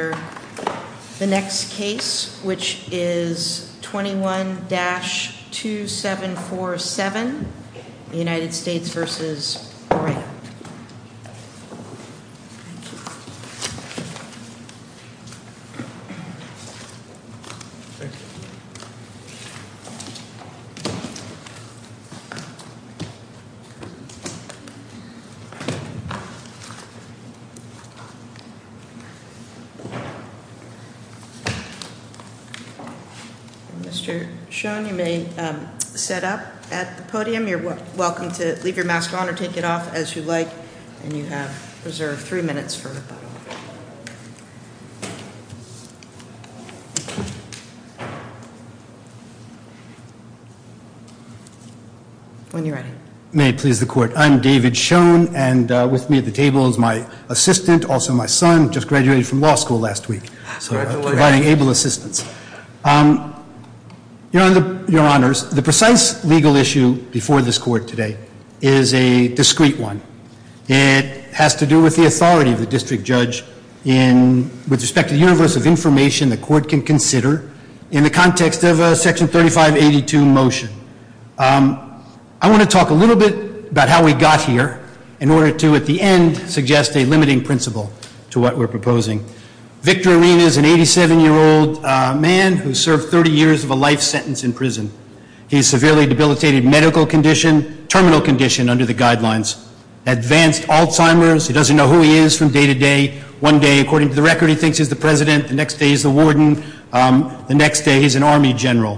The next case is 21-2747 United States v. Orena Mr. Schoen, you may set up at the podium. You're welcome to leave your mask on or take it off as you like. And you have reserved three minutes for rebuttal. When you're ready. May it please the court. I'm David Schoen and with me at the table is my assistant, also my son, just graduated from law school last week. Congratulations. So I'm providing able assistance. Your honors, the precise legal issue before this court today is a discrete one. It has to do with the authority of the district judge with respect to the universe of information the court can consider in the context of a section 3582 motion. I want to talk a little bit about how we got here in order to at the end suggest a limiting principle to what we're proposing. Victor Arena is an 87-year-old man who served 30 years of a life sentence in prison. He's severely debilitated medical condition, terminal condition under the guidelines, advanced Alzheimer's. He doesn't know who he is from day to day. One day, according to the record, he thinks he's the president. The next day he's the warden. The next day he's an army general.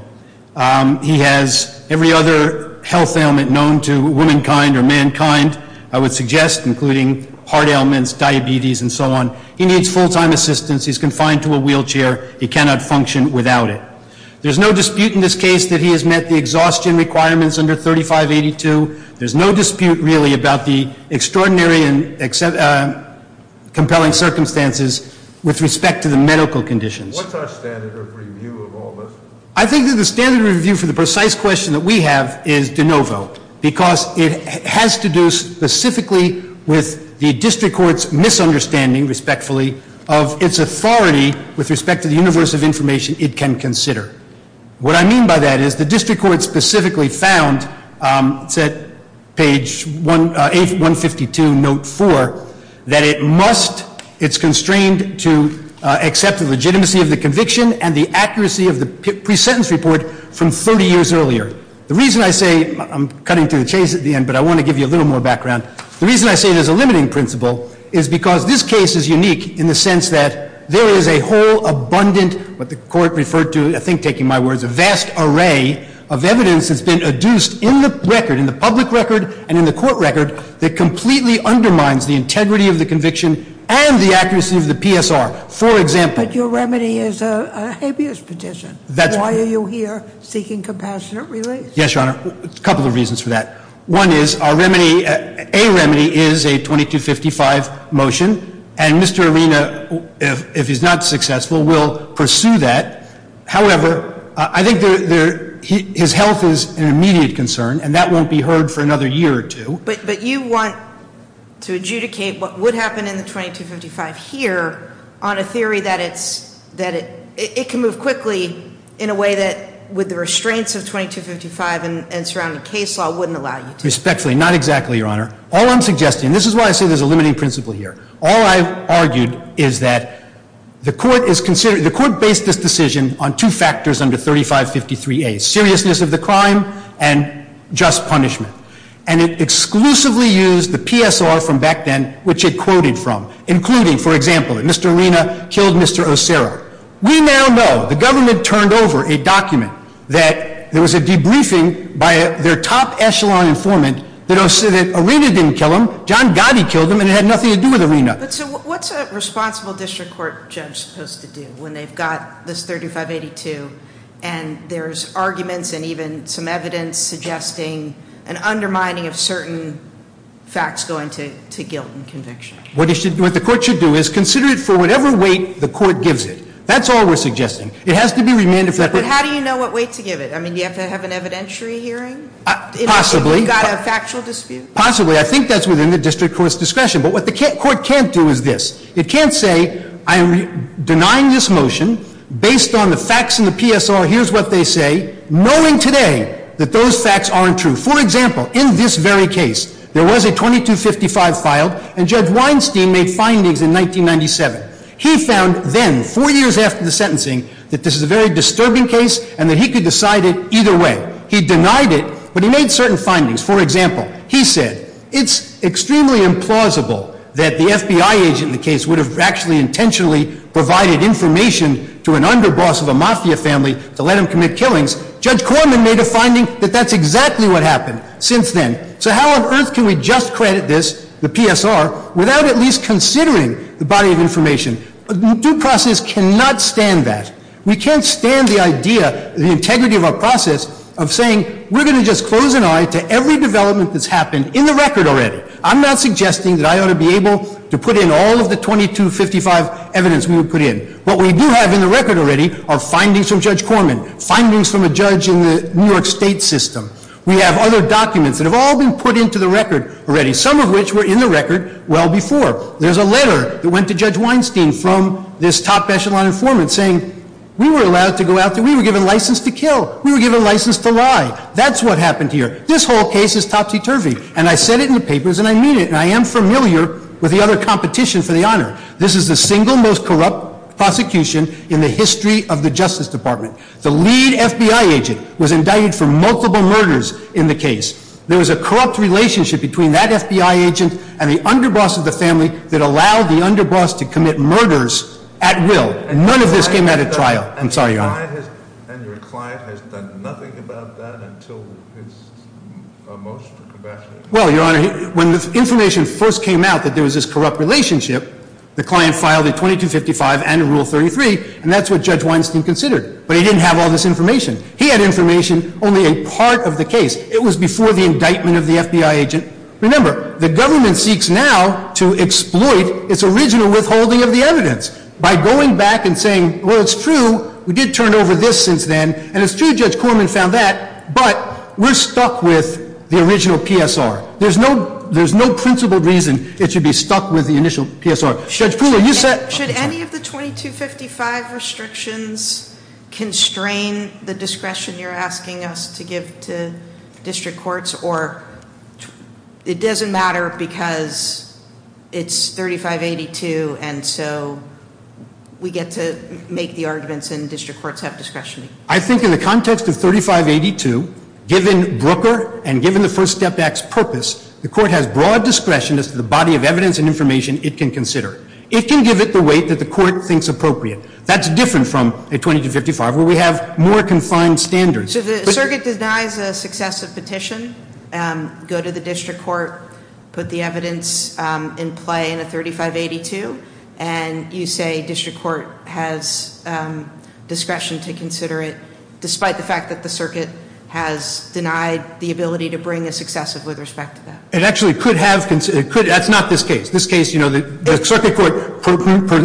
He has every other health ailment known to womankind or mankind, I would suggest, including heart ailments, diabetes and so on. He needs full-time assistance. He's confined to a wheelchair. He cannot function without it. There's no dispute in this case that he has met the exhaustion requirements under 3582. There's no dispute, really, about the extraordinary and compelling circumstances with respect to the medical conditions. What's our standard of review of all this? I think that the standard of review for the precise question that we have is de novo, because it has to do specifically with the district court's misunderstanding, respectfully, of its authority with respect to the universe of information it can consider. What I mean by that is the district court specifically found, it's at page 152, note 4, that it must, it's constrained to accept the legitimacy of the conviction and the accuracy of the pre-sentence report from 30 years earlier. The reason I say, I'm cutting to the chase at the end, but I want to give you a little more background. The reason I say there's a limiting principle is because this case is unique in the sense that there is a whole abundant, what the court referred to, I think, taking my words, a vast array of evidence that's been adduced in the record, in the public record and in the court record, that completely undermines the integrity of the conviction and the accuracy of the PSR. For example- But your remedy is a habeas petition. That's right. Why are you here seeking compassionate release? Yes, Your Honor. A couple of reasons for that. One is our remedy, a remedy is a 2255 motion, and Mr. Arena, if he's not successful, will pursue that. However, I think his health is an immediate concern, and that won't be heard for another year or two. But you want to adjudicate what would happen in the 2255 here on a theory that it can move quickly in a way that, with the restraints of 2255 and surrounding case law, wouldn't allow you to. Respectfully, not exactly, Your Honor. All I'm suggesting, this is why I say there's a limiting principle here. All I've argued is that the court based this decision on two factors under 3553A, seriousness of the crime and just punishment. And it exclusively used the PSR from back then, which it quoted from, including, for example, that Mr. Arena killed Mr. Osero. We now know, the government turned over a document that there was a debriefing by their top echelon informant that Arena didn't kill him, so John Gotti killed him, and it had nothing to do with Arena. But so what's a responsible district court judge supposed to do when they've got this 3582, and there's arguments and even some evidence suggesting an undermining of certain facts going to guilt and conviction? What the court should do is consider it for whatever weight the court gives it. That's all we're suggesting. It has to be remanded for- But how do you know what weight to give it? I mean, do you have to have an evidentiary hearing? Possibly. You've got a factual dispute. Possibly. I think that's within the district court's discretion. But what the court can't do is this. It can't say, I'm denying this motion based on the facts in the PSR. Here's what they say, knowing today that those facts aren't true. For example, in this very case, there was a 2255 filed, and Judge Weinstein made findings in 1997. He found then, four years after the sentencing, that this is a very disturbing case and that he could decide it either way. He denied it, but he made certain findings. For example, he said it's extremely implausible that the FBI agent in the case would have actually intentionally provided information to an underboss of a mafia family to let him commit killings. Judge Corman made a finding that that's exactly what happened since then. So how on earth can we just credit this, the PSR, without at least considering the body of information? Due process cannot stand that. We can't stand the idea, the integrity of our process, of saying we're going to just close an eye to every development that's happened in the record already. I'm not suggesting that I ought to be able to put in all of the 2255 evidence we would put in. What we do have in the record already are findings from Judge Corman, findings from a judge in the New York State system. We have other documents that have all been put into the record already, some of which were in the record well before. There's a letter that went to Judge Weinstein from this top echelon informant saying we were allowed to go out there. We were given license to kill. We were given license to lie. That's what happened here. This whole case is topsy-turvy, and I said it in the papers, and I mean it, and I am familiar with the other competition for the honor. This is the single most corrupt prosecution in the history of the Justice Department. The lead FBI agent was indicted for multiple murders in the case. There was a corrupt relationship between that FBI agent and the underboss of the family that allowed the underboss to commit murders at will. None of this came out at trial. I'm sorry, Your Honor. And your client has done nothing about that until his most compassionate? Well, Your Honor, when the information first came out that there was this corrupt relationship, the client filed a 2255 and a Rule 33, and that's what Judge Weinstein considered, but he didn't have all this information. He had information only a part of the case. It was before the indictment of the FBI agent. Remember, the government seeks now to exploit its original withholding of the evidence by going back and saying, well, it's true. We did turn over this since then, and it's true Judge Corman found that, but we're stuck with the original PSR. There's no principled reason it should be stuck with the initial PSR. Judge Poole, are you set? Should any of the 2255 restrictions constrain the discretion you're asking us to give to district courts, or it doesn't matter because it's 3582, and so we get to make the arguments and district courts have discretion? I think in the context of 3582, given Brooker and given the First Step Act's purpose, the court has broad discretion as to the body of evidence and information it can consider. It can give it the weight that the court thinks appropriate. That's different from a 2255 where we have more confined standards. So the circuit denies a successive petition, go to the district court, put the evidence in play in a 3582, and you say district court has discretion to consider it, despite the fact that the circuit has denied the ability to bring a successive with respect to that. It actually could have. That's not this case. This case, you know, the circuit court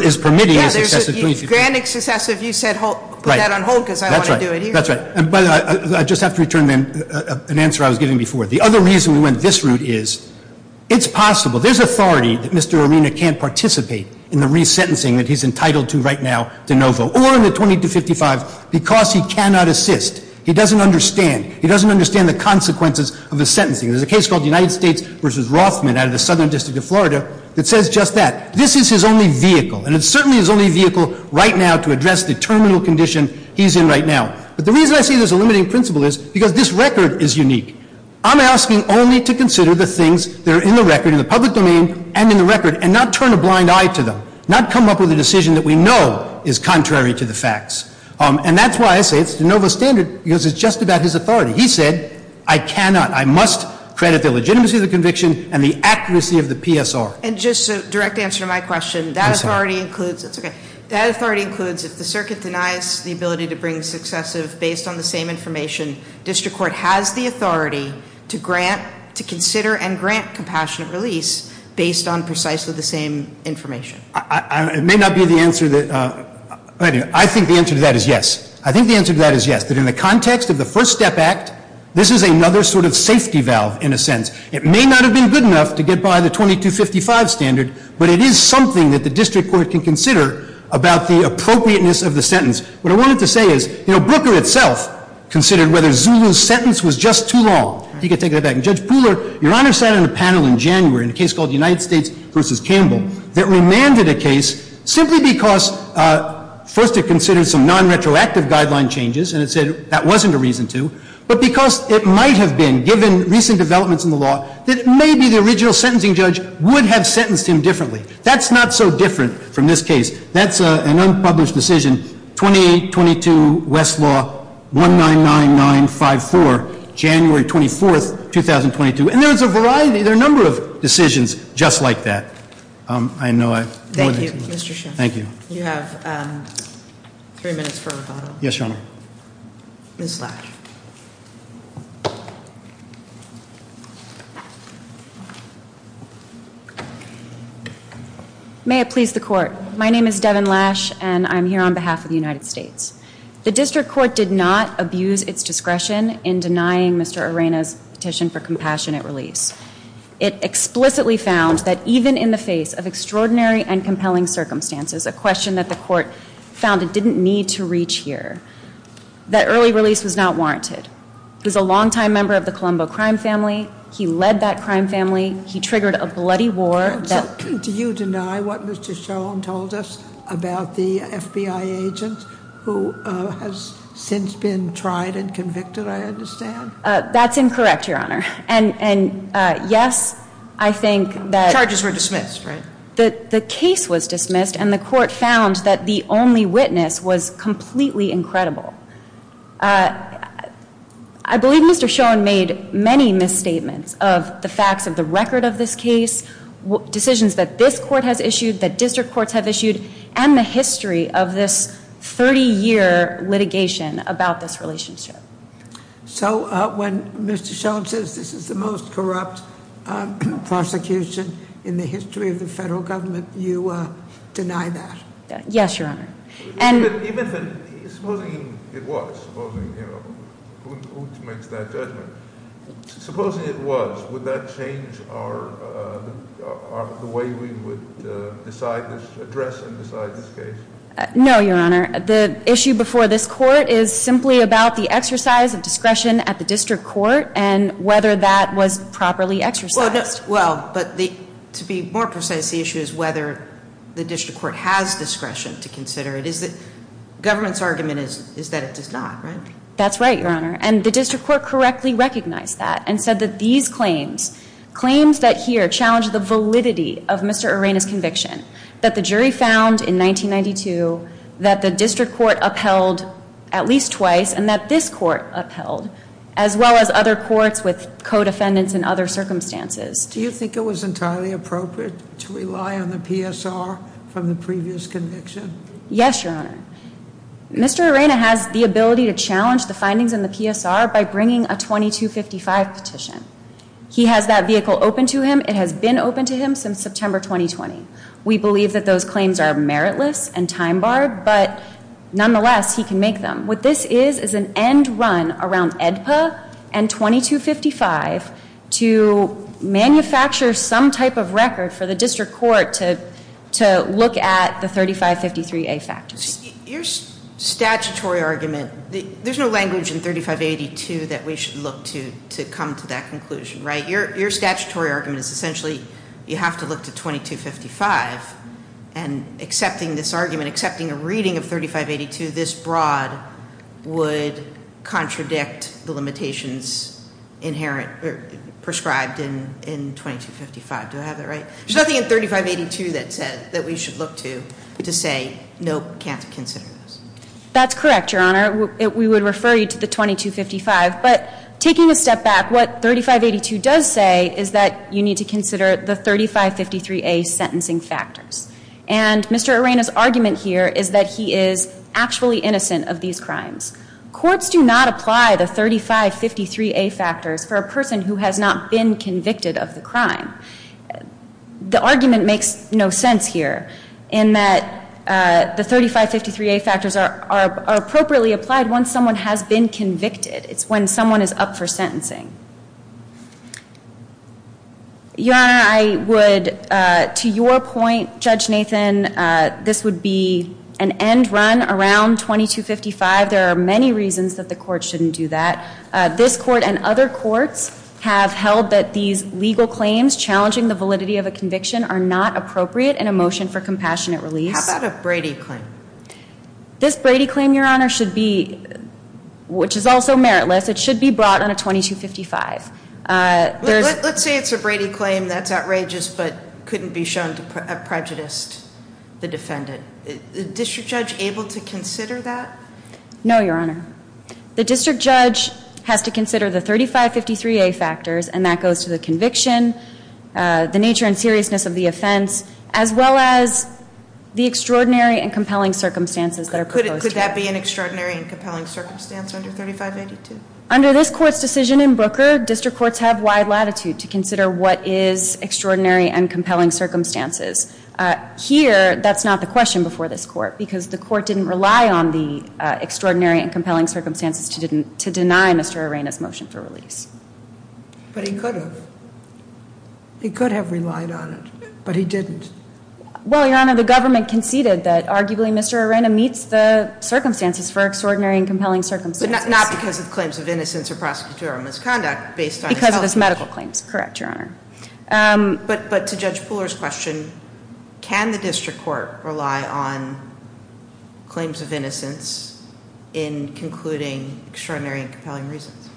is permitting a successive. You're granting successive. You said put that on hold because I don't want to do it either. That's right. I just have to return an answer I was giving before. The other reason we went this route is it's possible. There's authority that Mr. Arena can't participate in the resentencing that he's entitled to right now, de novo, or in the 2255 because he cannot assist. He doesn't understand. He doesn't understand the consequences of the sentencing. There's a case called United States v. Rothman out of the Southern District of Florida that says just that. This is his only vehicle, and it's certainly his only vehicle right now to address the terminal condition he's in right now. But the reason I say there's a limiting principle is because this record is unique. I'm asking only to consider the things that are in the record, in the public domain and in the record, and not turn a blind eye to them, not come up with a decision that we know is contrary to the facts. And that's why I say it's de novo standard because it's just about his authority. He said I cannot, I must credit the legitimacy of the conviction and the accuracy of the PSR. And just a direct answer to my question, that authority includes, that's okay, that authority includes if the circuit denies the ability to bring successive based on the same information, district court has the authority to grant, to consider and grant compassionate release based on precisely the same information. It may not be the answer that, I think the answer to that is yes. I think the answer to that is yes, that in the context of the First Step Act, this is another sort of safety valve in a sense. It may not have been good enough to get by the 2255 standard, but it is something that the district court can consider about the appropriateness of the sentence. What I wanted to say is, you know, Brooker itself considered whether Zulu's sentence was just too long. You can take that back. And Judge Pooler, Your Honor sat on a panel in January in a case called United States v. Campbell that remanded a case simply because first it considered some non-retroactive guideline changes and it said that wasn't a reason to, but because it might have been, given recent developments in the law, that maybe the original sentencing judge would have sentenced him differently. That's not so different from this case. That's an unpublished decision. 2822 Westlaw, 199954, January 24th, 2022. And there's a variety, there are a number of decisions just like that. I know I've... Thank you, Mr. Schiff. Thank you. You have three minutes for rebuttal. Yes, Your Honor. Ms. Lash. May it please the court. My name is Devin Lash and I'm here on behalf of the United States. The district court did not abuse its discretion in denying Mr. Arena's petition for compassionate release. It explicitly found that even in the face of extraordinary and compelling circumstances, a question that the court found it didn't need to reach here, that early release was not warranted. He was a longtime member of the Colombo crime family. He led that crime family. He triggered a bloody war. Do you deny what Mr. Schoen told us about the FBI agent who has since been tried and convicted, I understand? That's incorrect, Your Honor. And yes, I think that... Charges were dismissed, right? The case was dismissed and the court found that the only witness was completely incredible. I believe Mr. Schoen made many misstatements of the facts of the record of this case, decisions that this court has issued, that district courts have issued, and the history of this 30-year litigation about this relationship. So when Mr. Schoen says this is the most corrupt prosecution in the history of the federal government, you deny that? Yes, Your Honor. And... Supposing it was, supposing, you know, who makes that judgment? Supposing it was, would that change the way we would address and decide this case? No, Your Honor. The issue before this court is simply about the exercise of discretion at the district court and whether that was properly exercised. Well, but to be more precise, the issue is whether the district court has discretion to consider it. Government's argument is that it does not, right? That's right, Your Honor, and the district court correctly recognized that and said that these claims, claims that here challenge the validity of Mr. Urena's conviction, that the jury found in 1992 that the district court upheld at least twice and that this court upheld, as well as other courts with co-defendants in other circumstances. Do you think it was entirely appropriate to rely on the PSR from the previous conviction? Yes, Your Honor. Mr. Urena has the ability to challenge the findings in the PSR by bringing a 2255 petition. He has that vehicle open to him. It has been open to him since September 2020. We believe that those claims are meritless and time-barred, but nonetheless, he can make them. What this is is an end run around AEDPA and 2255 to manufacture some type of record for the district court to look at the 3553A factors. Your statutory argument, there's no language in 3582 that we should look to to come to that conclusion, right? Your statutory argument is essentially you have to look to 2255 and accepting this argument, accepting a reading of 3582 this broad would contradict the limitations inherent or prescribed in 2255. Do I have that right? There's nothing in 3582 that said that we should look to to say, nope, can't consider this. That's correct, Your Honor. We would refer you to the 2255. But taking a step back, what 3582 does say is that you need to consider the 3553A sentencing factors. And Mr. Urena's argument here is that he is actually innocent of these crimes. Courts do not apply the 3553A factors for a person who has not been convicted of the crime. The argument makes no sense here in that the 3553A factors are appropriately applied once someone has been convicted. It's when someone is up for sentencing. Your Honor, I would, to your point, Judge Nathan, this would be an end run around 2255. There are many reasons that the court shouldn't do that. This court and other courts have held that these legal claims challenging the validity of a conviction are not appropriate in a motion for compassionate release. How about a Brady claim? This Brady claim, Your Honor, should be, which is also meritless, it should be brought on a 2255. Let's say it's a Brady claim that's outrageous but couldn't be shown to have prejudiced the defendant. Is the district judge able to consider that? No, Your Honor. The district judge has to consider the 3553A factors and that goes to the conviction, the nature and seriousness of the offense, as well as the extraordinary and compelling circumstances that are proposed here. Could that be an extraordinary and compelling circumstance under 3582? Under this court's decision in Booker, district courts have wide latitude to consider what is extraordinary and compelling circumstances. Here, that's not the question before this court because the court didn't rely on the extraordinary and compelling circumstances to deny Mr. Arena's motion for release. But he could have. He could have relied on it, but he didn't. Well, Your Honor, the government conceded that arguably Mr. Arena meets the circumstances for extraordinary and compelling circumstances. But not because of claims of innocence or prosecutorial misconduct based on his health. Because of his medical claims. Correct, Your Honor. But to Judge Pooler's question, can the district court rely on claims of innocence in concluding extraordinary and compelling reasons?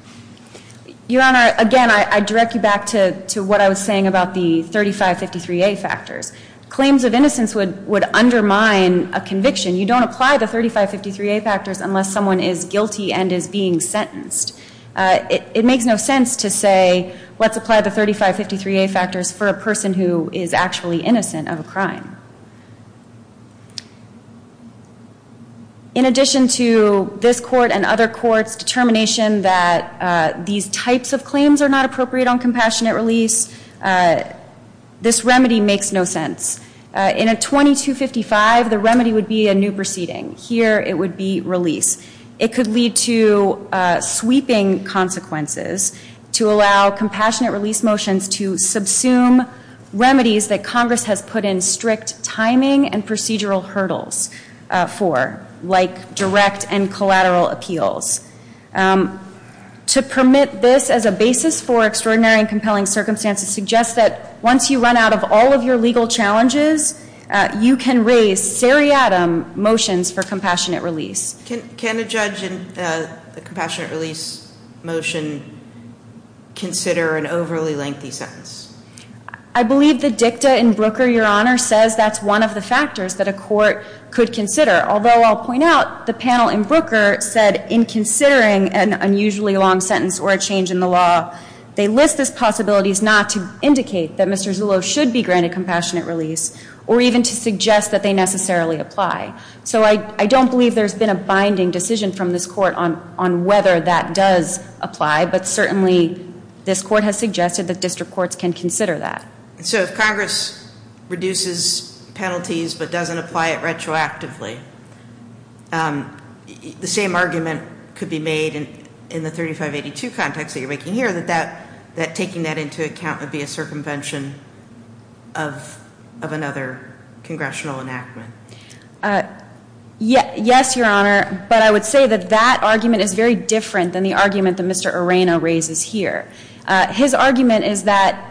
Your Honor, again, I direct you back to what I was saying about the 3553A factors. Claims of innocence would undermine a conviction. You don't apply the 3553A factors unless someone is guilty and is being sentenced. It makes no sense to say, let's apply the 3553A factors for a person who is actually innocent of a crime. In addition to this court and other courts' determination that these types of claims are not appropriate on compassionate release, this remedy makes no sense. In a 2255, the remedy would be a new proceeding. Here, it would be release. It could lead to sweeping consequences to allow compassionate release motions to subsume remedies that Congress has put in strict timing and procedural hurdles for, like direct and collateral appeals. To permit this as a basis for extraordinary and compelling circumstances suggests that once you run out of all of your legal challenges, you can raise seriatim motions for compassionate release. Can a judge in the compassionate release motion consider an overly lengthy sentence? I believe the dicta in Brooker, Your Honor, says that's one of the factors that a court could consider. Although, I'll point out, the panel in Brooker said in considering an unusually long sentence or a change in the law, they list as possibilities not to indicate that Mr. Zullo should be granted compassionate release or even to suggest that they necessarily apply. So I don't believe there's been a binding decision from this court on whether that does apply, but certainly this court has suggested that district courts can consider that. So if Congress reduces penalties but doesn't apply it retroactively, the same argument could be made in the 3582 context that you're making here, that taking that into account would be a circumvention of another congressional enactment. Yes, Your Honor, but I would say that that argument is very different than the argument that Mr. Arena raises here. His argument is that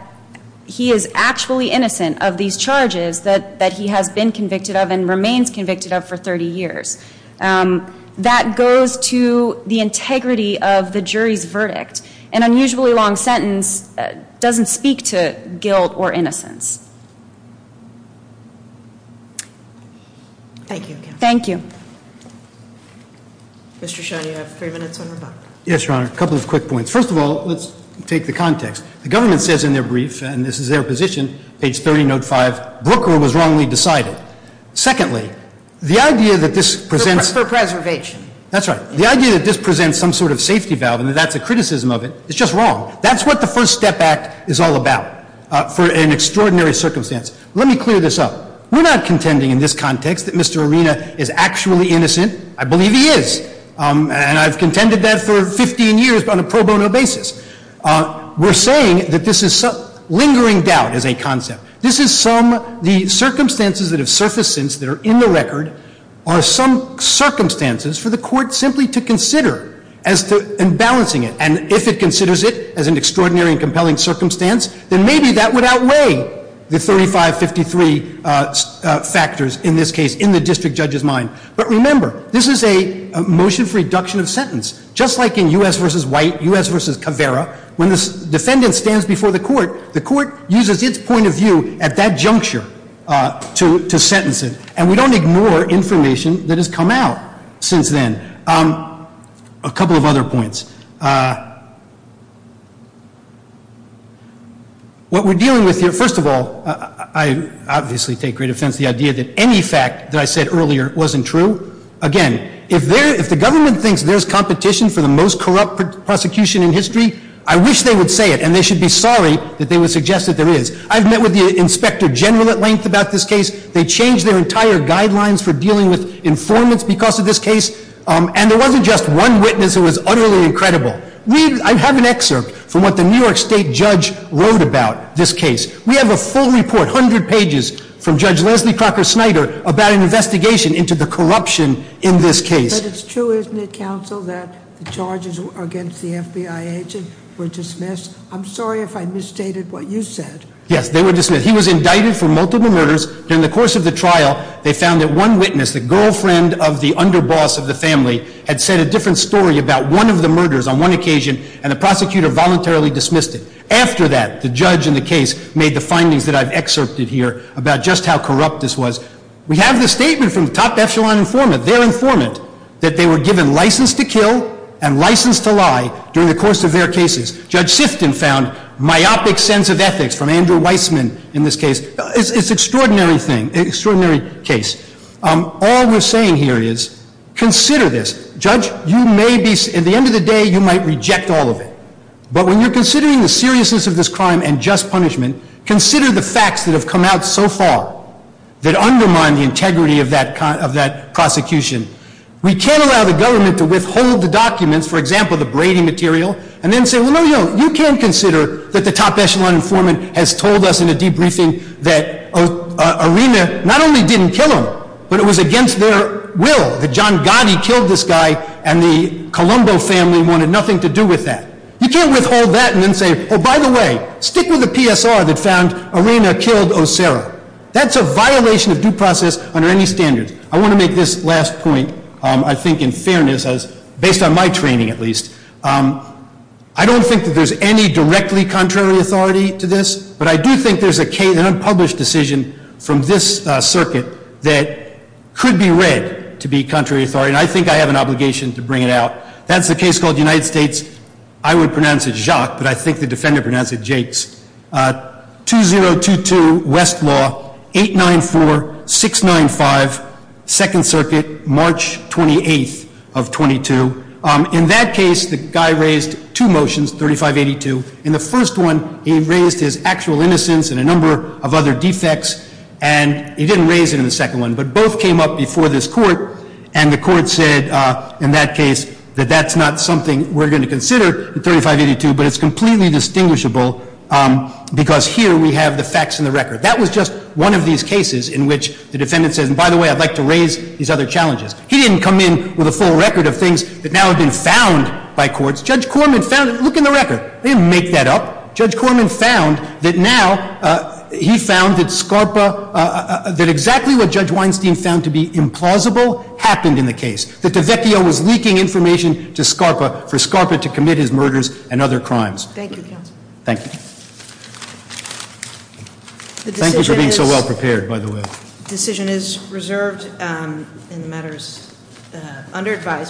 he is actually innocent of these charges that he has been convicted of and remains convicted of for 30 years. That goes to the integrity of the jury's verdict. An unusually long sentence doesn't speak to guilt or innocence. Thank you. Thank you. Mr. Shaw, you have three minutes on your buck. Yes, Your Honor. A couple of quick points. First of all, let's take the context. The government says in their brief, and this is their position, page 30, note 5, Brooker was wrongly decided. Secondly, the idea that this presents- For preservation. That's right. The idea that this presents some sort of safety valve and that that's a criticism of it is just wrong. That's what the First Step Act is all about for an extraordinary circumstance. Let me clear this up. We're not contending in this context that Mr. Arena is actually innocent. I believe he is, and I've contended that for 15 years on a pro bono basis. We're saying that this is lingering doubt as a concept. This is some, the circumstances that have surfaced since that are in the record are some circumstances for the court simply to consider as to, in balancing it, and if it considers it as an extraordinary and compelling circumstance, then maybe that would outweigh the 35-53 factors in this case in the district judge's mind. But remember, this is a motion for reduction of sentence. Just like in U.S. v. White, U.S. v. Caveira, when the defendant stands before the court, the court uses its point of view at that juncture to sentence him, and we don't ignore information that has come out since then. A couple of other points. What we're dealing with here, first of all, I obviously take great offense to the idea that any fact that I said earlier wasn't true. Again, if the government thinks there's competition for the most corrupt prosecution in history, I wish they would say it, and they should be sorry that they would suggest that there is. I've met with the inspector general at length about this case. They changed their entire guidelines for dealing with informants because of this case, and there wasn't just one witness who was utterly incredible. I have an excerpt from what the New York State judge wrote about this case. We have a full report, 100 pages, from Judge Leslie Crocker Snyder about an investigation into the corruption in this case. But it's true, isn't it, counsel, that the charges against the FBI agent were dismissed? I'm sorry if I misstated what you said. Yes, they were dismissed. He was indicted for multiple murders. During the course of the trial, they found that one witness, the girlfriend of the underboss of the family, had said a different story about one of the murders on one occasion, and the prosecutor voluntarily dismissed it. After that, the judge in the case made the findings that I've excerpted here about just how corrupt this was. We have the statement from the top echelon informant, their informant, that they were given license to kill and license to lie during the course of their cases. Judge Sifton found myopic sense of ethics from Andrew Weissman in this case. It's an extraordinary thing, extraordinary case. All we're saying here is consider this. Judge, you may be, at the end of the day, you might reject all of it. But when you're considering the seriousness of this crime and just punishment, consider the facts that have come out so far that undermine the integrity of that prosecution. We can't allow the government to withhold the documents, for example, the Brady material, and then say, well, no, you can't consider that the top echelon informant has told us in a debriefing that Arena not only didn't kill him, but it was against their will that John Gotti killed this guy and the Colombo family wanted nothing to do with that. You can't withhold that and then say, oh, by the way, stick with the PSR that found Arena killed O'Sara. That's a violation of due process under any standards. I want to make this last point, I think, in fairness, based on my training at least. I don't think that there's any directly contrary authority to this, but I do think there's an unpublished decision from this circuit that could be read to be contrary authority, and I think I have an obligation to bring it out. That's a case called United States, I would pronounce it Jacques, but I think the defender pronounced it Jacques, 2022 West Law, 894-695, Second Circuit, March 28th of 22. In that case, the guy raised two motions, 3582. In the first one, he raised his actual innocence and a number of other defects, and he didn't raise it in the second one, but both came up before this court, and the court said in that case that that's not something we're going to consider in 3582, but it's completely distinguishable because here we have the facts in the record. That was just one of these cases in which the defendant says, and by the way, I'd like to raise these other challenges. He didn't come in with a full record of things that now have been found by courts. Judge Corman found it. Look in the record. They didn't make that up. Judge Corman found that now he found that SCARPA, that exactly what Judge Weinstein found to be implausible happened in the case, that the VETEO was leaking information to SCARPA for SCARPA to commit his murders and other crimes. Thank you, counsel. Thank you. Thank you for being so well prepared, by the way. The decision is reserved in matters under advisement.